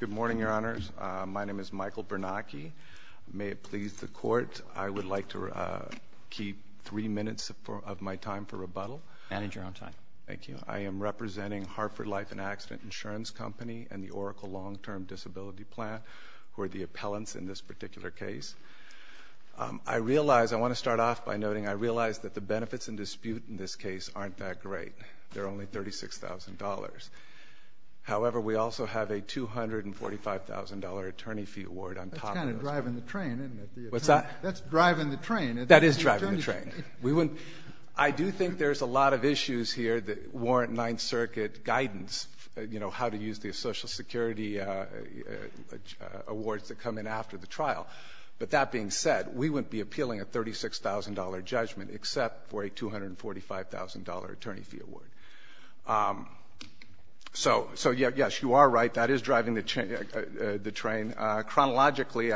Good morning, Your Honors. My name is Michael Bernacchi. May it please the Court, I would like to keep three minutes of my time for rebuttal. Manage your own time. Thank you. I am representing Hartford Life and Accident Insurance Company and the Oracle Long Term Disability Plan, who are the appellants in this particular case. I realize, I want to start off by noting, I realize that the benefits in dispute in this case aren't that However, we also have a $245,000 attorney fee award on top of those. That's kind of driving the train, isn't it? What's that? That's driving the train. That is driving the train. I do think there's a lot of issues here that warrant Ninth Circuit guidance, you know, how to use the Social Security awards that come in after the trial. But that being said, we wouldn't be appealing a $36,000 judgment except for a $245,000 attorney fee award. So, yes, you are right. That is driving the train. Chronologically,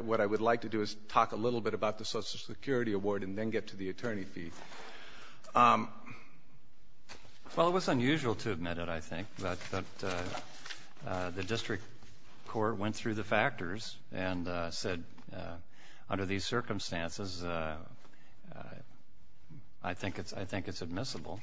what I would like to do is talk a little bit about the Social Security award and then get to the attorney fee. Well, it was unusual to admit it, I think. But the district court went through the factors and said, under these circumstances, I think it's admissible.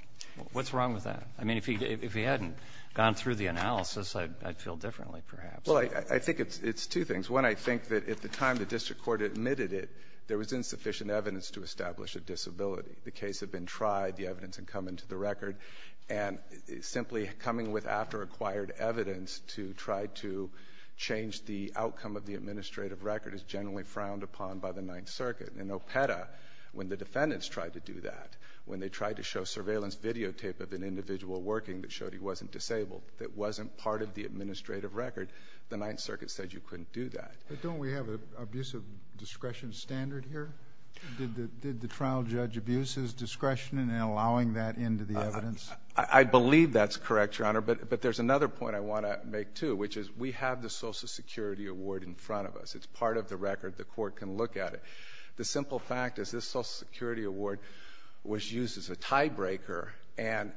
What's wrong with that? I mean, if he hadn't gone through the analysis, I'd feel differently, perhaps. Well, I think it's two things. One, I think that at the time the district court admitted it, there was insufficient evidence to establish a disability. The case had been tried. The evidence had come into the record. And simply coming with after-acquired evidence to try to change the outcome of the administrative record is generally frowned upon by the Ninth Circuit. In Opeta, when the defendants tried to do that, when they tried to show surveillance videotape of an individual working that showed he wasn't disabled, that wasn't part of the administrative record, the Ninth Circuit said you couldn't do that. But don't we have an abuse of discretion standard here? Did the trial judge abuse his discretion in allowing that into the evidence? I believe that's correct, Your Honor. But there's another point I want to make, too, which is we have the Social Security Award in front of us. It's part of the record. The court can look at it. The simple fact is this Social Security Award was used as a tiebreaker, and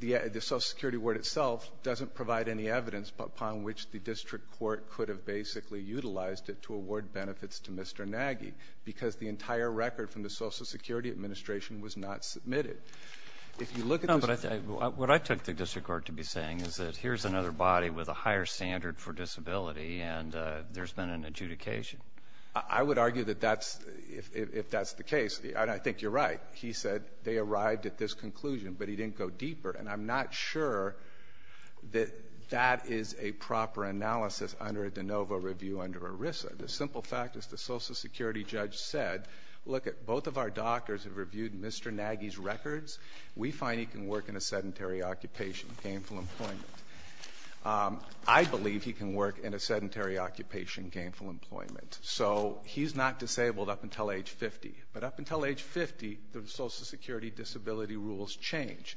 the Social Security Award itself doesn't provide any evidence upon which the district court could have basically utilized it to award benefits to Mr. Nagy because the entire record from the Social Security Administration was not submitted. No, but what I took the district court to be saying is that here's another body with a higher standard for disability, and there's been an adjudication. I would argue that that's, if that's the case, and I think you're right. He said they arrived at this conclusion, but he didn't go deeper. And I'm not sure that that is a proper analysis under a de novo review under ERISA. The simple fact is the Social Security judge said, look, both of our doctors have reviewed Mr. Nagy's records. We find he can work in a sedentary occupation, gainful employment. I believe he can work in a sedentary occupation, gainful employment. So he's not disabled up until age 50. But up until age 50, the Social Security disability rules change.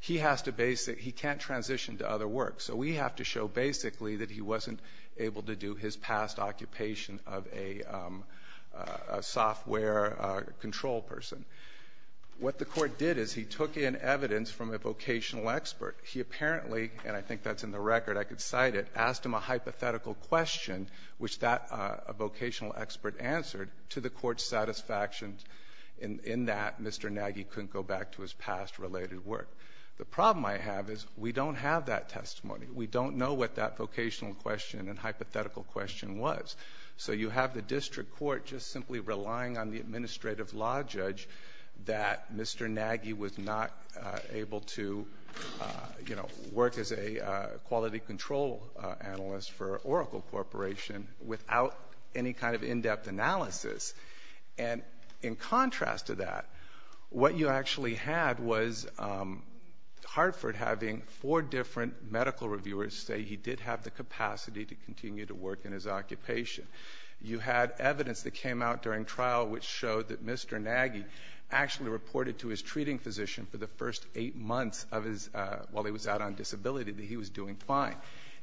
He has to basic, he can't transition to other work. So we have to show basically that he wasn't able to do his past occupation of a software control person. What the Court did is he took in evidence from a vocational expert. He apparently — and I think that's in the record, I could cite it — asked him a hypothetical question, which that vocational expert answered, to the Court's satisfaction in that Mr. Nagy couldn't go back to his past related work. The problem I have is we don't have that testimony. We don't know what that vocational question and hypothetical question was. So you have the District Court just simply relying on the administrative law judge that Mr. Nagy was not able to, you know, work as a quality control analyst for Oracle Corporation without any kind of in-depth analysis. And in contrast to that, what you actually had was Hartford having four different medical reviewers say he did have the capacity to continue to work in his occupation. You had evidence that came out during trial which showed that Mr. Nagy actually reported to his treating physician for the first eight months of his, while he was out on disability, that he was doing fine.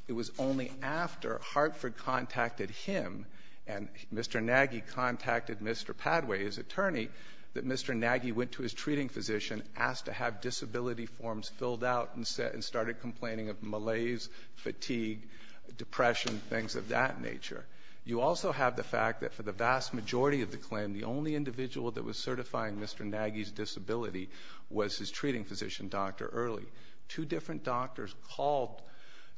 It was only after Hartford contacted him and Mr. Nagy contacted Mr. Padway, his attorney, that Mr. Nagy went to his treating physician, asked to have disability forms filled out and started complaining of malaise, fatigue, depression, things of that nature. You also have the fact that for the vast majority of the claim, the only individual that was certifying Mr. Nagy's disability was his treating physician, Dr. Early. Two different doctors called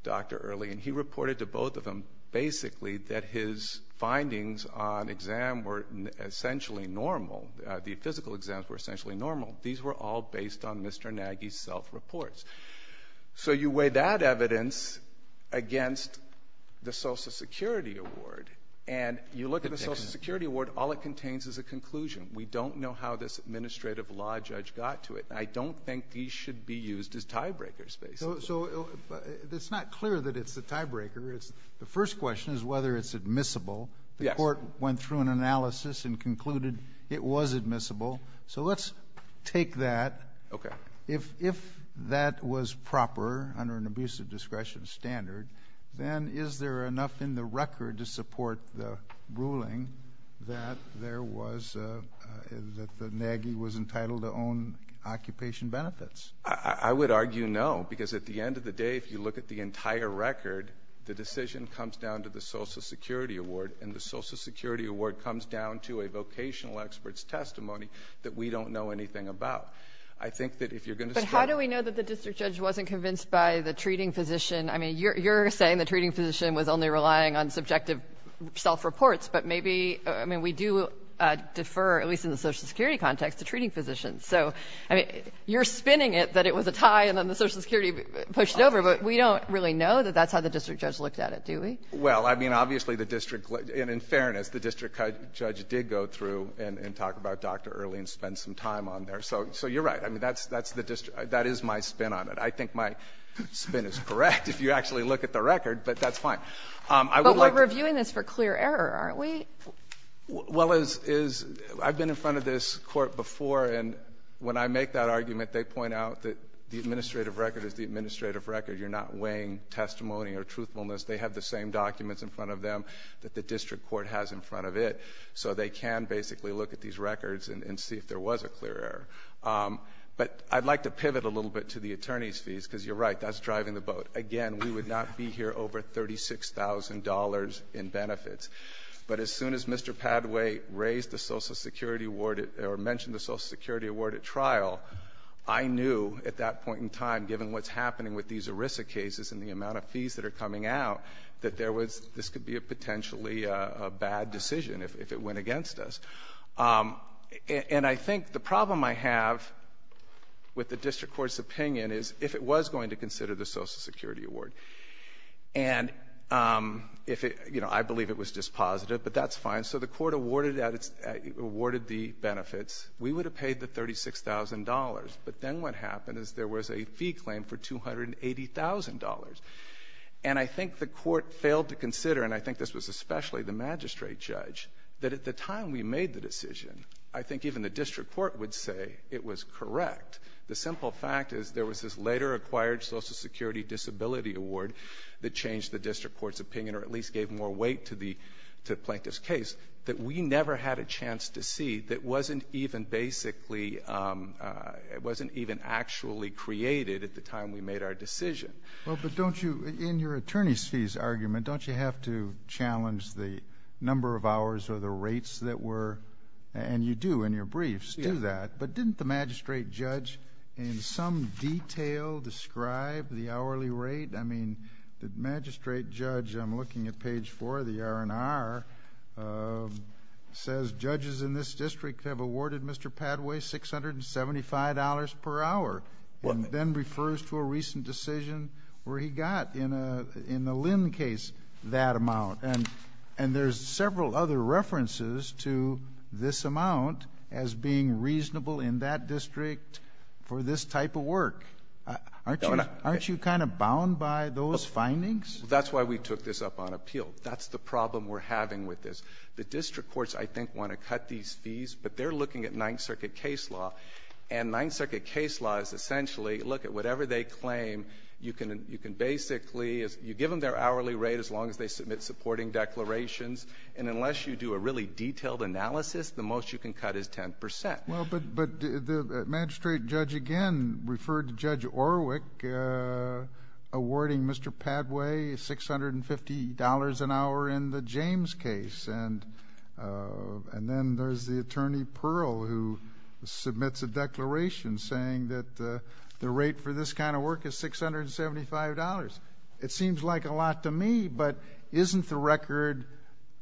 Dr. Early and he reported to both of them basically that his findings on exam were essentially normal. The physical exams were essentially normal. These were all based on Mr. Nagy's self-reports. So you weigh that evidence against the Social Security Award and you look at the Social Security Award, all it contains is a conclusion. We don't know how this administrative law judge got to it. I don't think these should be used as tie-breakers basically. So it's not clear that it's a tie-breaker. The first question is whether it's admissible. Yes. The court went through an analysis and concluded it was admissible. So let's take that. Okay. If that was proper under an abusive discretion standard, then is there enough in the record to support the ruling that there was, that Nagy was entitled to own occupation benefits? I would argue no, because at the end of the day, if you look at the entire record, the Social Security Award comes down to a vocational expert's testimony that we don't know anything about. I think that if you're going to start But how do we know that the district judge wasn't convinced by the treating physician? I mean, you're saying the treating physician was only relying on subjective self-reports, but maybe, I mean, we do defer, at least in the Social Security context, to treating physicians. So, I mean, you're spinning it that it was a tie and then the Social Security pushed it over, but we don't really know that that's how the district judge looked at it, do we? Well, I mean, obviously, the district, and in fairness, the district judge did go through and talk about Dr. Earley and spend some time on there. So you're right. I mean, that's the district. That is my spin on it. I think my spin is correct, if you actually look at the record, but that's fine. But we're reviewing this for clear error, aren't we? Well, as is, I've been in front of this Court before, and when I make that argument, they point out that the administrative record is the administrative record. You're not weighing testimony or truthfulness. They have the same documents in front of them that the district court has in front of it. So they can basically look at these records and see if there was a clear error. But I'd like to pivot a little bit to the attorney's fees, because you're right, that's driving the boat. Again, we would not be here over $36,000 in benefits. But as soon as Mr. Padway raised the Social Security Award, or mentioned the Social Security Award at trial, I knew at that point in time, given what's happening with these ERISA cases and the amount of fees that are coming out, that there was — this could be a potentially bad decision if it went against us. And I think the problem I have with the district court's opinion is if it was going to consider the Social Security Award, and if it — you know, I believe it was just positive, but that's fine. So the court awarded the benefits. We would have paid the $36,000. But then what happened is there was a fee claim for $280,000. And I think the court failed to consider, and I think this was especially the magistrate judge, that at the time we made the decision, I think even the district court would say it was correct. The simple fact is there was this later-acquired Social Security Disability Award that changed the district court's opinion, or at least gave more weight to the wasn't even actually created at the time we made our decision. Well, but don't you — in your attorney's fees argument, don't you have to challenge the number of hours or the rates that were — and you do in your briefs do that. Yes. But didn't the magistrate judge in some detail describe the hourly rate? I mean, the magistrate judge — I'm looking at page 4 of the R&R — says judges in this district have awarded Mr. Padway $675 per hour, and then refers to a recent decision where he got in the Lynn case that amount. And there's several other references to this amount as being reasonable in that district for this type of work. Aren't you kind of bound by those findings? Well, that's why we took this up on appeal. That's the problem we're having with this. The district courts, I think, want to cut these fees, but they're looking at Ninth Circuit case law. And Ninth Circuit case law is essentially, look, at whatever they claim, you can basically — you give them their hourly rate as long as they submit supporting declarations. And unless you do a really detailed analysis, the most you can cut is 10 percent. Well, but the magistrate judge again referred to Judge Orwick awarding Mr. Padway $650 an hour in the James case. And then there's the attorney, Pearl, who submits a declaration saying that the rate for this kind of work is $675. It seems like a lot to me, but isn't the record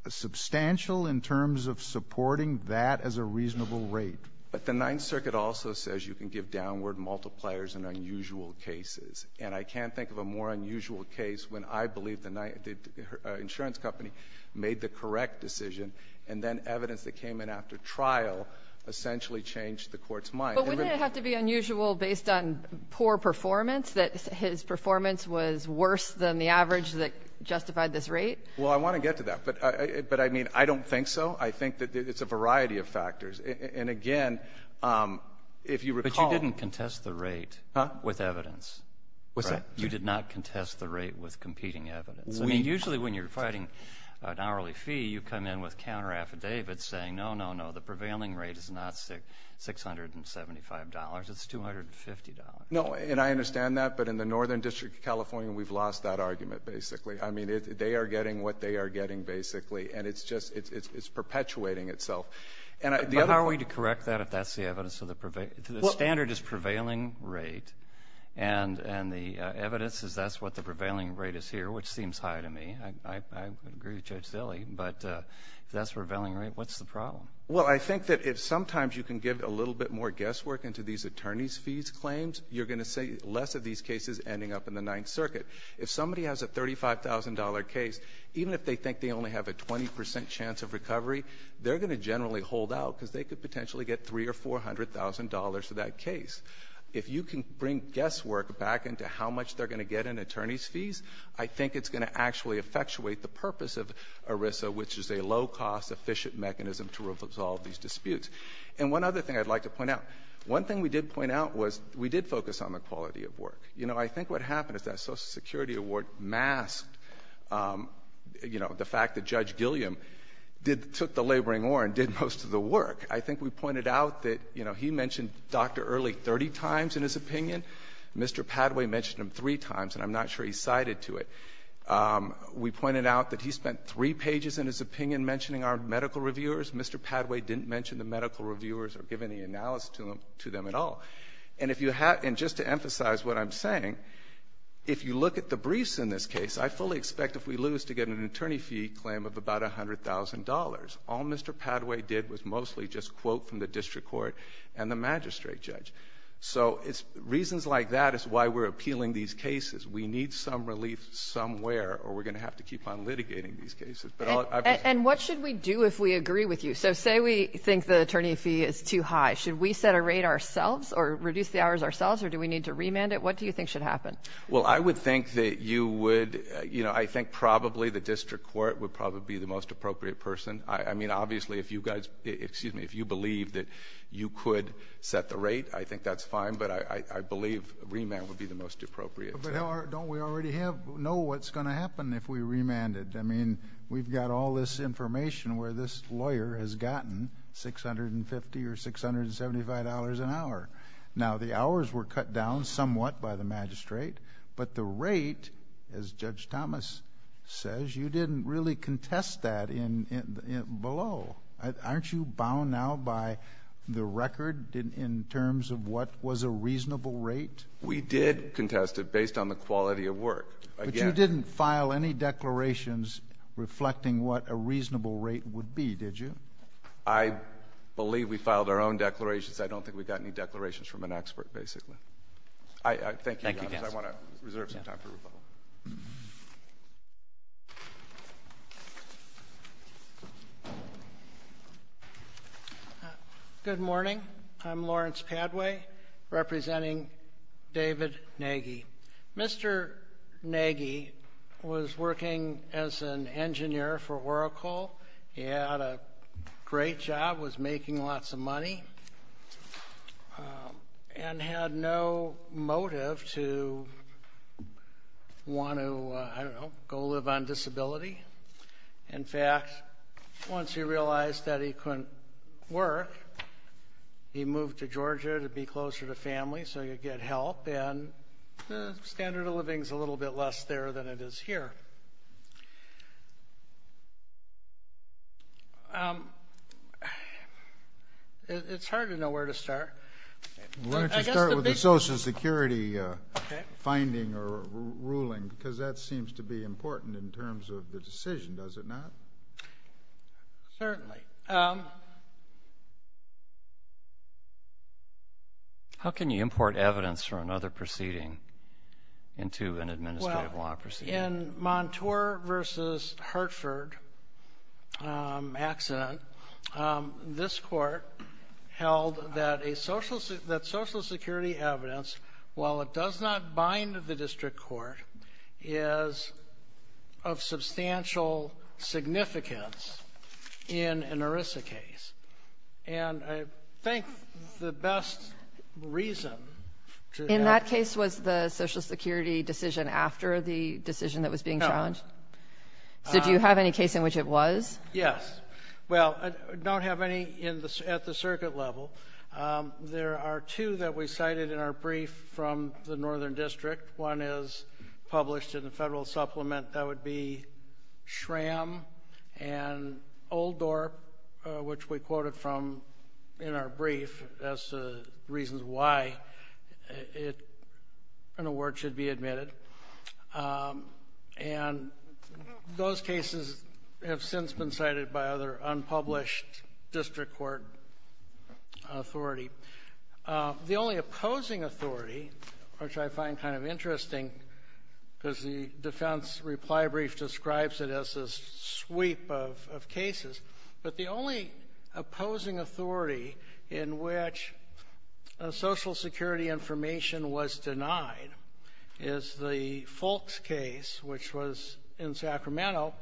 substantial in terms of supporting that as a reasonable rate? But the Ninth Circuit also says you can give downward multipliers in unusual cases. And I can't think of a more unusual case when I believe the insurance company made the correct decision, and then evidence that came in after trial essentially changed the court's mind. But wouldn't it have to be unusual based on poor performance, that his performance was worse than the average that justified this rate? Well, I want to get to that. But I mean, I don't think so. I think that it's a variety of factors. And again, if you recall — But you didn't contest the rate — Huh? With evidence. What's that? You did not contest the rate with competing evidence. I mean, usually when you're fighting an hourly fee, you come in with counter-affidavits saying, no, no, no, the prevailing rate is not $675. It's $250. No. And I understand that. But in the Northern District of California, we've lost that argument, basically. I mean, they are getting what they are getting, basically. And it's just — it's perpetuating itself. And the other — Can I correct that if that's the evidence of the — the standard is prevailing rate. And the evidence is that's what the prevailing rate is here, which seems high to me. I agree with Judge Dilley. But if that's the prevailing rate, what's the problem? Well, I think that if sometimes you can give a little bit more guesswork into these attorney's fees claims, you're going to see less of these cases ending up in the Ninth Circuit. If somebody has a $35,000 case, even if they think they only have a 20 percent chance of potentially get $300,000 or $400,000 for that case, if you can bring guesswork back into how much they're going to get in attorney's fees, I think it's going to actually effectuate the purpose of ERISA, which is a low-cost, efficient mechanism to resolve these disputes. And one other thing I'd like to point out. One thing we did point out was we did focus on the quality of work. You know, I think what happened is that Social Security Award masked, you know, the fact that Judge Gilliam did — took the laboring oar and did most of the work. I think we pointed out that, you know, he mentioned Dr. Early 30 times in his opinion. Mr. Padway mentioned him three times, and I'm not sure he cited to it. We pointed out that he spent three pages in his opinion mentioning our medical reviewers. Mr. Padway didn't mention the medical reviewers or give any analysis to them at all. And if you have — and just to emphasize what I'm saying, if you look at the briefs in this case, I fully expect if we lose to get an attorney fee claim of about $100,000. All Mr. Padway did was mostly just quote from the district court and the magistrate judge. So it's — reasons like that is why we're appealing these cases. We need some relief somewhere, or we're going to have to keep on litigating these cases. But I'll — And what should we do if we agree with you? So say we think the attorney fee is too high. Should we set a rate ourselves or reduce the hours ourselves, or do we need to remand it? What do you think should happen? Well, I would think that you would — you know, I think probably the district court would probably be the most appropriate person. I mean, obviously, if you guys — excuse me, if you believe that you could set the rate, I think that's fine. But I believe remand would be the most appropriate. But don't we already have — know what's going to happen if we remand it? I mean, we've got all this information where this lawyer has gotten $650 or $675 an hour. Now, the hours were cut down somewhat by the magistrate, but the rate, as Judge Thomas says, you didn't really contest that below. Aren't you bound now by the record in terms of what was a reasonable rate? We did contest it based on the quality of work. But you didn't file any declarations reflecting what a reasonable rate would be, did you? I believe we filed our own declarations. I don't think we got any declarations from an expert, basically. Thank you, guys. I want to reserve some time for rebuttal. Good morning. I'm Lawrence Padway, representing David Nagy. Mr. Nagy was working as an engineer for Whirlpool. He had a great job, was making no motive to want to, I don't know, go live on disability. In fact, once he realized that he couldn't work, he moved to Georgia to be closer to family so he could get help, and the standard of living is a little bit less there than it is here. It's hard to know where to start. Why don't you start with the Social Security finding or ruling? Because that seems to be important in terms of the decision, does it not? Certainly. How can you import evidence from another proceeding into an administrative law proceeding? In Montour v. Hartford accident, this Court held that Social Security evidence, while it does not bind the district court, is of substantial significance in an ERISA case. And I think the best reason to have That case was the Social Security decision after the decision that was being challenged? No. So do you have any case in which it was? Yes. Well, I don't have any at the circuit level. There are two that we cited in our brief from the Northern District. One is published in the Federal Supplement, that would be why an award should be admitted. And those cases have since been cited by other unpublished district court authority. The only opposing authority, which I find kind of interesting, because the defense reply brief describes it as a sweep of cases, but the only opposing authority in which Social Security information was denied is the Fulks case, which was in Sacramento.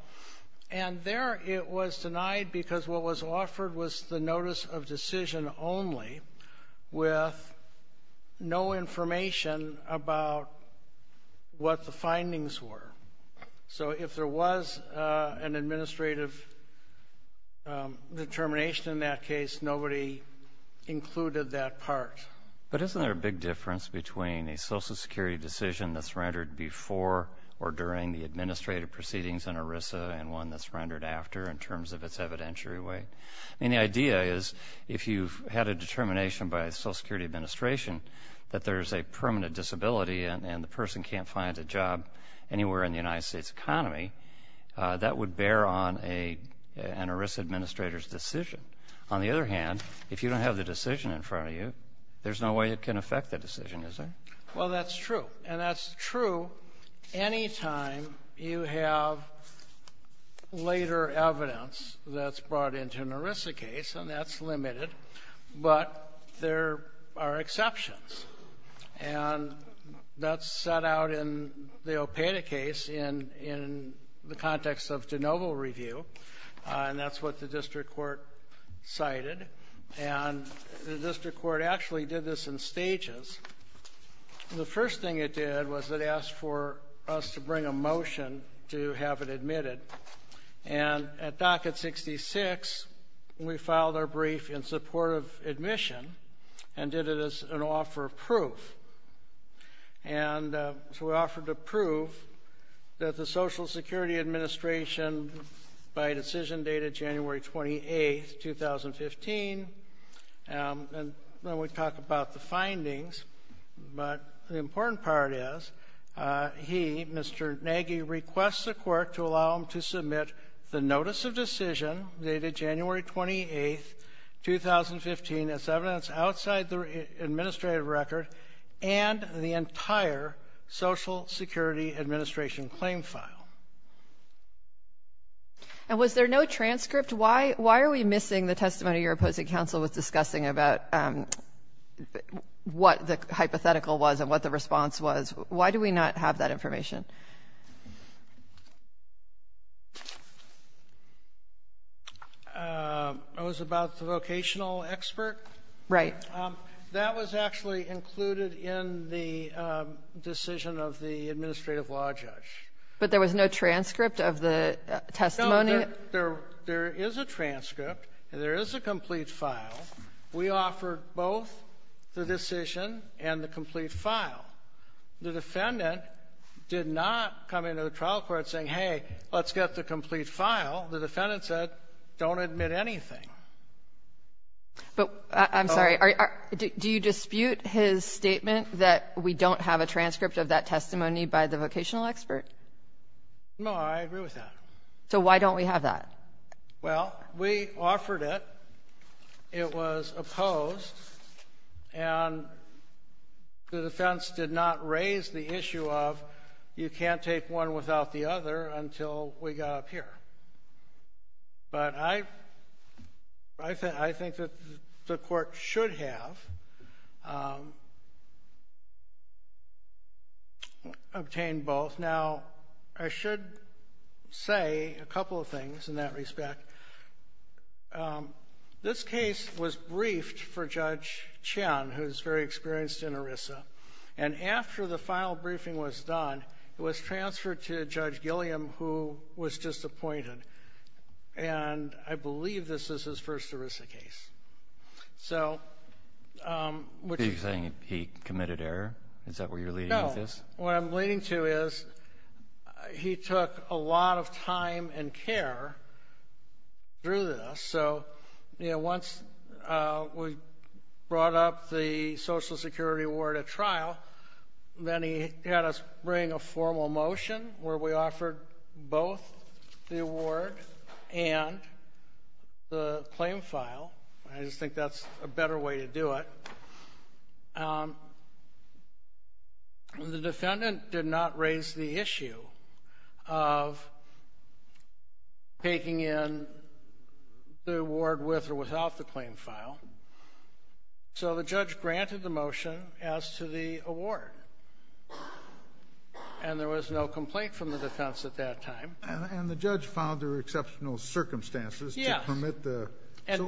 And there it was denied because what was offered was the notice of decision only with no information about what the findings were. So if there was an administrative determination in that case, nobody included that part. But isn't there a big difference between a Social Security decision that's rendered before or during the administrative proceedings in ERISA and one that's rendered after in terms of its evidentiary weight? And the idea is if you've had a determination by Social Security administration that there's a permanent disability and the person can't find a job anywhere in the United States economy, that would bear on an ERISA administrator's decision. On the other hand, if you don't have the decision in front of you, there's no way it can affect the decision, is there? Well, that's true. And that's true any time you have later evidence that's brought into an ERISA case, and that's limited. But there are exceptions. And that's set out in the OPEDA case in the context of de novo review, and that's what the district court cited. And the district court actually did this in stages. The first thing it did was it asked for us to bring a motion to have it admitted. And at docket 66, we filed our brief in support of admission and did it as an offer of proof. And so we offered to prove that the Social Security administration, by decision date of January 28, 2015, and then we talk about the findings, but the important part is he, Mr. Nagy, requests the court to allow him to submit the notice of decision dated January 28, 2015, as evidence outside the administrative record and the entire Social Security administration claim file. And was there no transcript? Why are we missing the testimony your opposing counsel was discussing about what the hypothetical was and what the response was? Why do we not have that information? It was about the vocational expert? Right. That was actually included in the decision of the administrative law judge. But there was no transcript of the testimony? No. There is a transcript and there is a complete file. We offered both the decision and the complete file. The defendant did not come into the trial court saying, hey, let's get the complete file. The defendant said, don't admit anything. But, I'm sorry, do you dispute his statement that we don't have a transcript of that testimony by the vocational expert? No, I agree with that. So why don't we have that? Well, we offered it. It was opposed. And the defense did not raise the issue of you can't take one without the other until we got up here. But I think that the Court should have obtained both. Now, I should say a couple of things in that respect. This case was briefed for Judge Chen, who is very experienced in ERISA. And after the final briefing was done, it was transferred to Judge Gilliam, who was just appointed. And I believe this is his first ERISA case. Are you saying he committed error? Is that where you're leading with this? No. What I'm leading to is he took a lot of time and care through this. So once we brought up the Social Security Award at trial, then he had us bring a formal motion where we offered both the award and the claim file. I just think that's a better way to do it. The defendant did not raise the issue of taking in the award with or without the claim file. So the judge granted the motion as to the award. And there was no complaint from the defense at that time. And the judge found there were exceptional circumstances to permit the – Well, it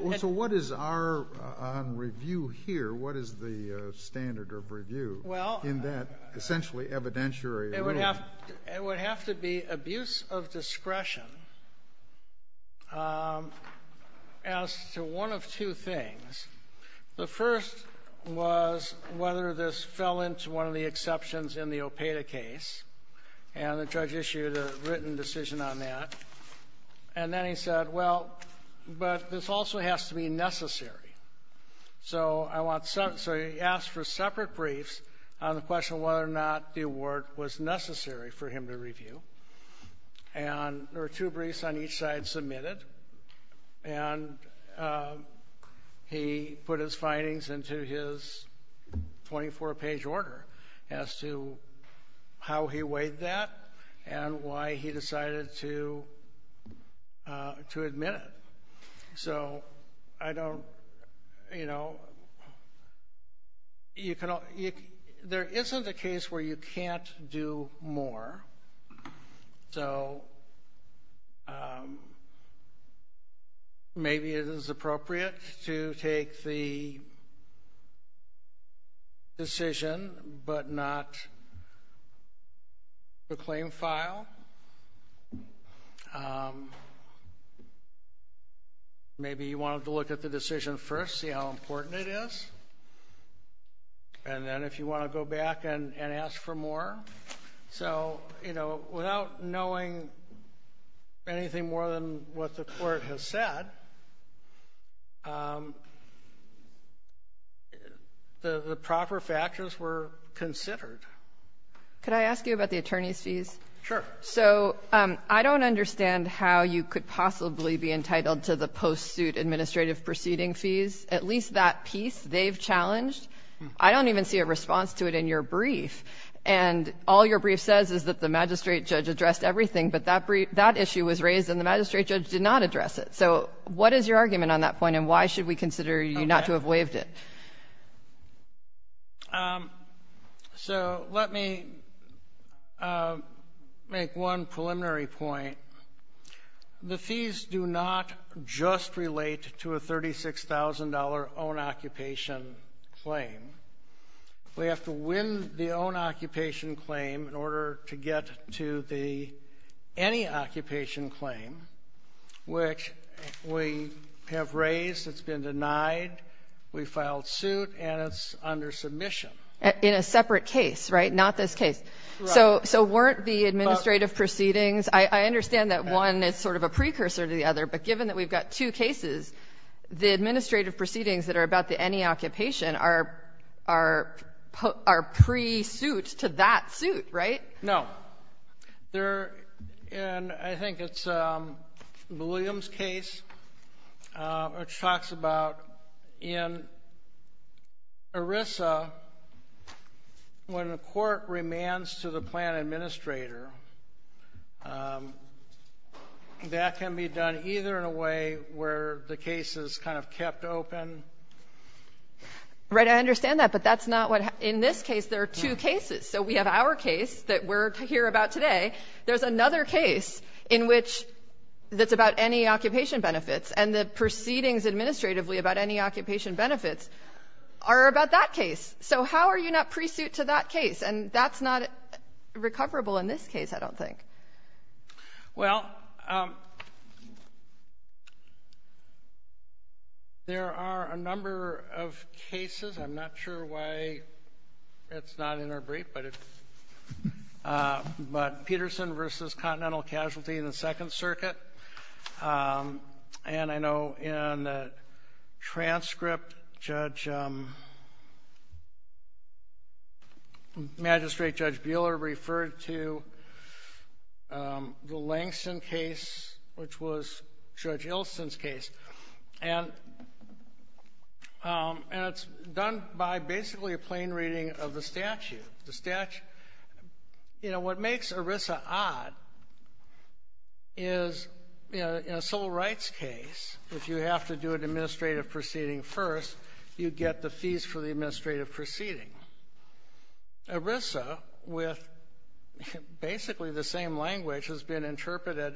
would have to be abuse of discretion as to one of two things. The first was whether this fell into one of the exceptions in the OPEDA case. And the judge issued a written decision on that. And then he said, well, but this also has to be necessary. So he asked for separate briefs on the question of whether or not the award was necessary for him to review. And there were two briefs on each side submitted. And he put his findings into his 24-page order as to how he weighed that and why he decided to admit it. So I don't – you know, there isn't a case where you can't do more. So maybe it is appropriate to take the decision but not the claim file. Maybe you wanted to look at the decision first, see how important it is. And then if you want to go back and ask for more. So, you know, without knowing anything more than what the Court has said, the proper factors were considered. Could I ask you about the attorney's fees? Sure. So I don't understand how you could possibly be entitled to the post-suit administrative proceeding fees. At least that piece they've challenged. I don't even see a response to it in your brief. And all your brief says is that the magistrate judge addressed everything, but that issue was raised and the magistrate judge did not address it. So what is your argument on that point, and why should we consider you not to have waived it? So let me make one preliminary point. The fees do not just relate to a $36,000 own-occupation claim. We have to win the own-occupation claim in order to get to the any-occupation claim, which we have raised. It's been denied. We filed suit, and it's under submission. In a separate case, right? Not this case. Right. So weren't the administrative proceedings? I understand that one is sort of a precursor to the other, but given that we've got two cases, the administrative proceedings that are about the any-occupation are pre-suit to that suit, right? No. And I think it's Williams' case, which talks about in ERISA, when a court remands to the plan administrator, that can be done either in a way where the case is kind of kept open. Right. I understand that, but that's not what — in this case, there are two cases. So we have our case that we're here about today. There's another case in which it's about any-occupation benefits, and the proceedings administratively about any-occupation benefits are about that case. So how are you not pre-suit to that case? And that's not recoverable in this case, I don't think. Well, there are a number of cases. I'm not sure why it's not in our brief, but it's — but Peterson v. Continental Casualty in the Second Circuit. And I know in the transcript, Judge — Magistrate Judge Buehler referred to the Langston case, which was Judge Ilsen's case. And it's done by basically a plain reading of the statute. You know, what makes ERISA odd is, you know, in a civil rights case, if you have to do an administrative proceeding first, you get the fees for the administrative proceeding. ERISA, with basically the same language, has been interpreted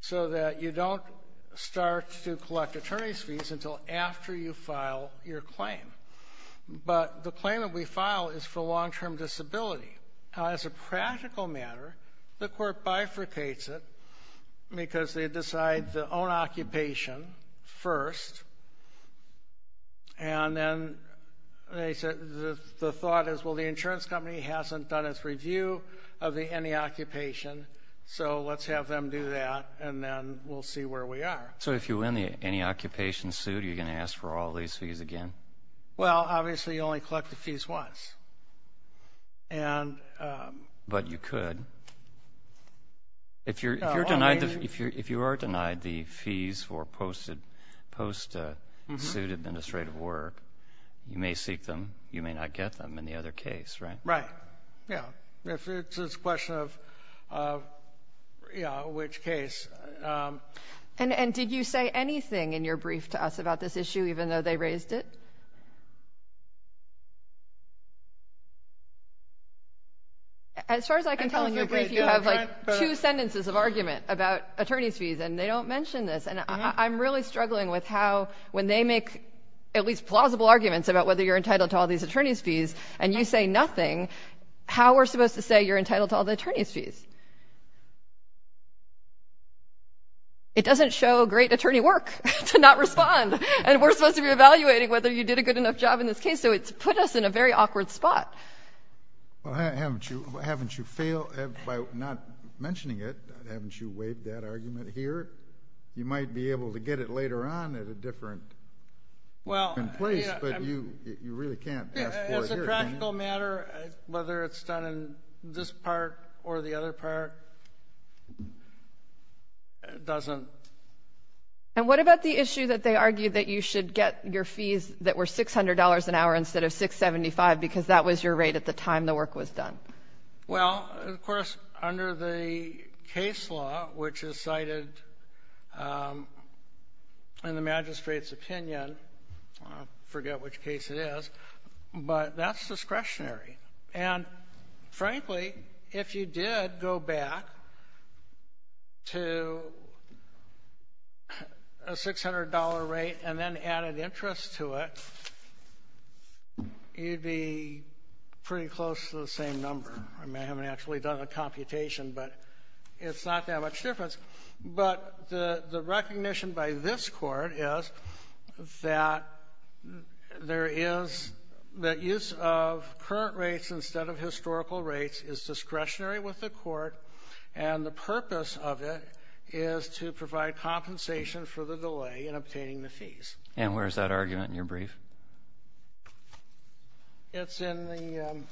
so that you don't start to collect attorney's fees until after you file your claim. But the claim that we file is for long-term disability. As a practical matter, the court bifurcates it because they decide the own occupation first. And then they said the thought is, well, the insurance company hasn't done its review of the any-occupation, so let's have them do that, and then we'll see where we are. So if you win the any-occupation suit, are you going to ask for all these fees again? Well, obviously, you only collect the fees once. But you could. If you're denied — if you are denied the fees for post-suit administrative work, you may seek them. You may not get them in the other case, right? Right. Yeah. It's a question of, yeah, which case. And did you say anything in your brief to us about this issue, even though they raised it? As far as I can tell in your brief, you have, like, two sentences of argument about attorney's fees, and they don't mention this. And I'm really struggling with how, when they make at least plausible arguments about whether you're entitled to all these attorney's fees, and you say nothing, how are we supposed to say you're entitled to all the attorney's fees? It doesn't show great attorney work to not respond. And we're supposed to be evaluating whether you did a good enough job in this case. So it's put us in a very awkward spot. Well, haven't you failed by not mentioning it? Haven't you waived that argument here? You might be able to get it later on at a different place, but you really can't ask for it here. It doesn't. And what about the issue that they argue that you should get your fees that were $600 an hour instead of $675 because that was your rate at the time the work was done? Well, of course, under the case law, which is cited in the magistrate's opinion, I forget which case it is, but that's discretionary. And frankly, if you did go back to a $600 rate and then added interest to it, you'd be pretty close to the same number. I mean, I haven't actually done the computation, but it's not that much difference. But the recognition by this Court is that there is the use of current rates instead of historical rates is discretionary with the Court, and the purpose of it is to provide compensation for the delay in obtaining the fees. And where is that argument in your brief? It's in the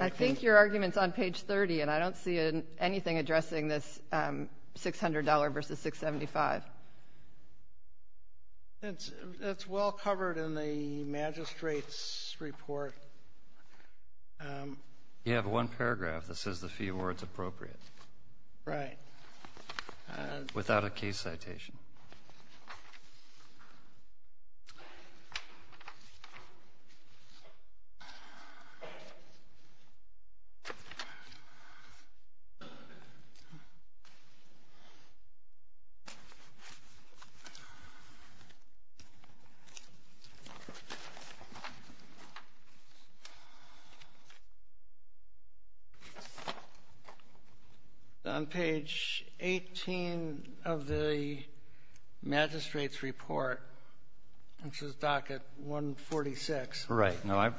I think your argument's on page 30, and I don't see anything addressing this $600 versus $675. It's well covered in the magistrate's report. You have one paragraph that says the fee award's appropriate. Right. Without a case citation. On page 18 of the magistrate's report, which is docket 146. Right. No, I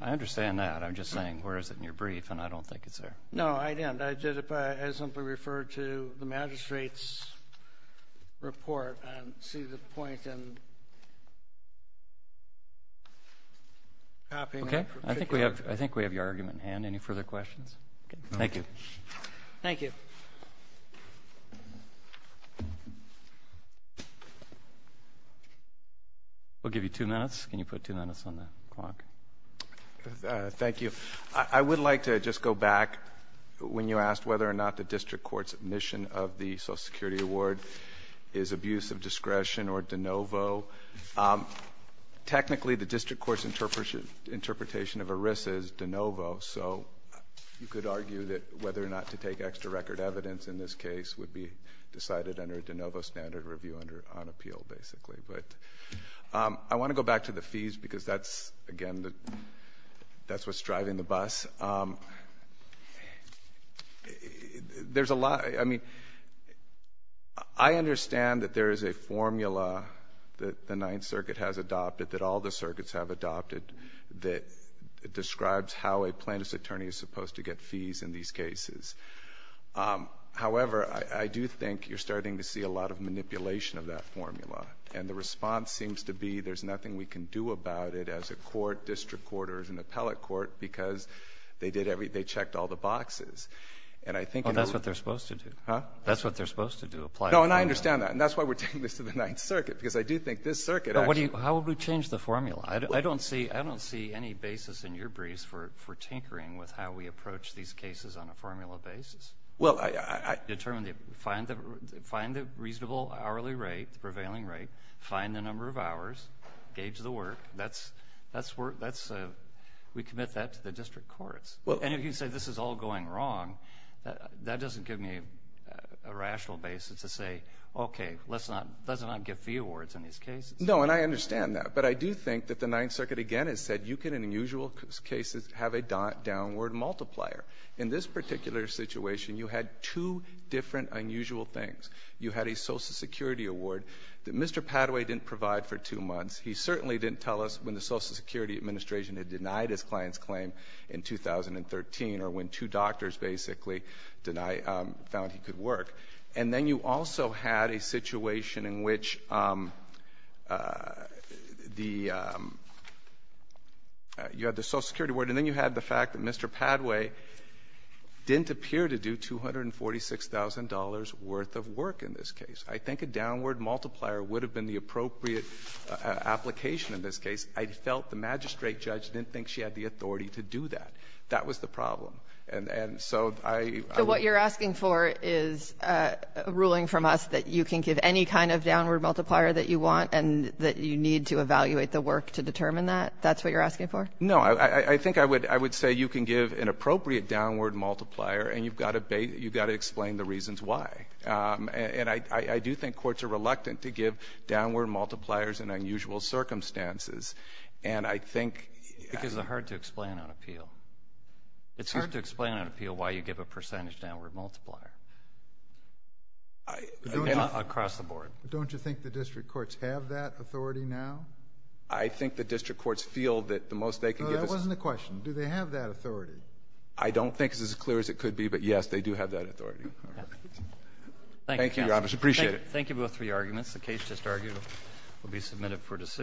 understand that. I'm just saying where is it in your brief, and I don't think it's there. No, I didn't. I simply referred to the magistrate's report and see the point in copying it. Okay. I think we have your argument in hand. Any further questions? Thank you. Thank you. We'll give you two minutes. Can you put two minutes on the clock? Thank you. I would like to just go back when you asked whether or not the district court's admission of the Social Security award is abuse of discretion or de novo. Technically, the district court's interpretation of a risk is de novo, so you could argue that whether or not to take extra record evidence in this case would be decided under a de novo standard review on appeal, basically. But I want to go back to the fees because that's, again, that's what's driving the bus. There's a lot. I mean, I understand that there is a formula that the Ninth Circuit has adopted that all the circuits have adopted that describes how a plaintiff's attorney is supposed to get fees in these cases. However, I do think you're starting to see a lot of manipulation of that formula and the response seems to be there's nothing we can do about it as a court, district court or as an appellate court because they did every they checked all the boxes. And I think that's what they're supposed to do. Huh? That's what they're supposed to do, apply a formula. No, and I understand that. And that's why we're taking this to the Ninth Circuit because I do think this circuit actually How would we change the formula? I don't see I don't see any basis in your briefs for tinkering with how we approach these cases on a formula basis. Well, I determine the find the find the reasonable hourly rate, the prevailing rate, find the number of hours, gauge the work. That's that's where that's we commit that to the district courts. Well, and if you say this is all going wrong, that doesn't give me a rational basis to say, OK, let's not let's not give fee awards in these cases. No, and I understand that. But I do think that the Ninth Circuit again has said you can, in usual cases, have a dot downward multiplier. In this particular situation, you had two different unusual things. You had a Social Security award that Mr. Padway didn't provide for two months. He certainly didn't tell us when the Social Security Administration had denied his client's claim in 2013 or when two doctors basically denied found he could work. And then you also had a situation in which the you had the Social Security award, and then you had the fact that Mr. Padway didn't appear to do $246,000 worth of work in this case. I think a downward multiplier would have been the appropriate application in this case. I felt the magistrate judge didn't think she had the authority to do that. That was the problem. And so I. Kagan. So what you're asking for is a ruling from us that you can give any kind of downward multiplier that you want and that you need to evaluate the work to determine that? That's what you're asking for? No, I think I would I would say you can give an appropriate downward multiplier and you've got to explain the reasons why. And I do think courts are reluctant to give downward multipliers in unusual circumstances. And I think. Because they're hard to explain on appeal. It's hard to explain on appeal why you give a percentage downward multiplier across the board. Don't you think the district courts have that authority now? I think the district courts feel that the most they can give. That wasn't the question. Do they have that authority? I don't think it's as clear as it could be. But yes, they do have that authority. Thank you. I appreciate it. Thank you both for your arguments. The case just argued will be submitted for decision.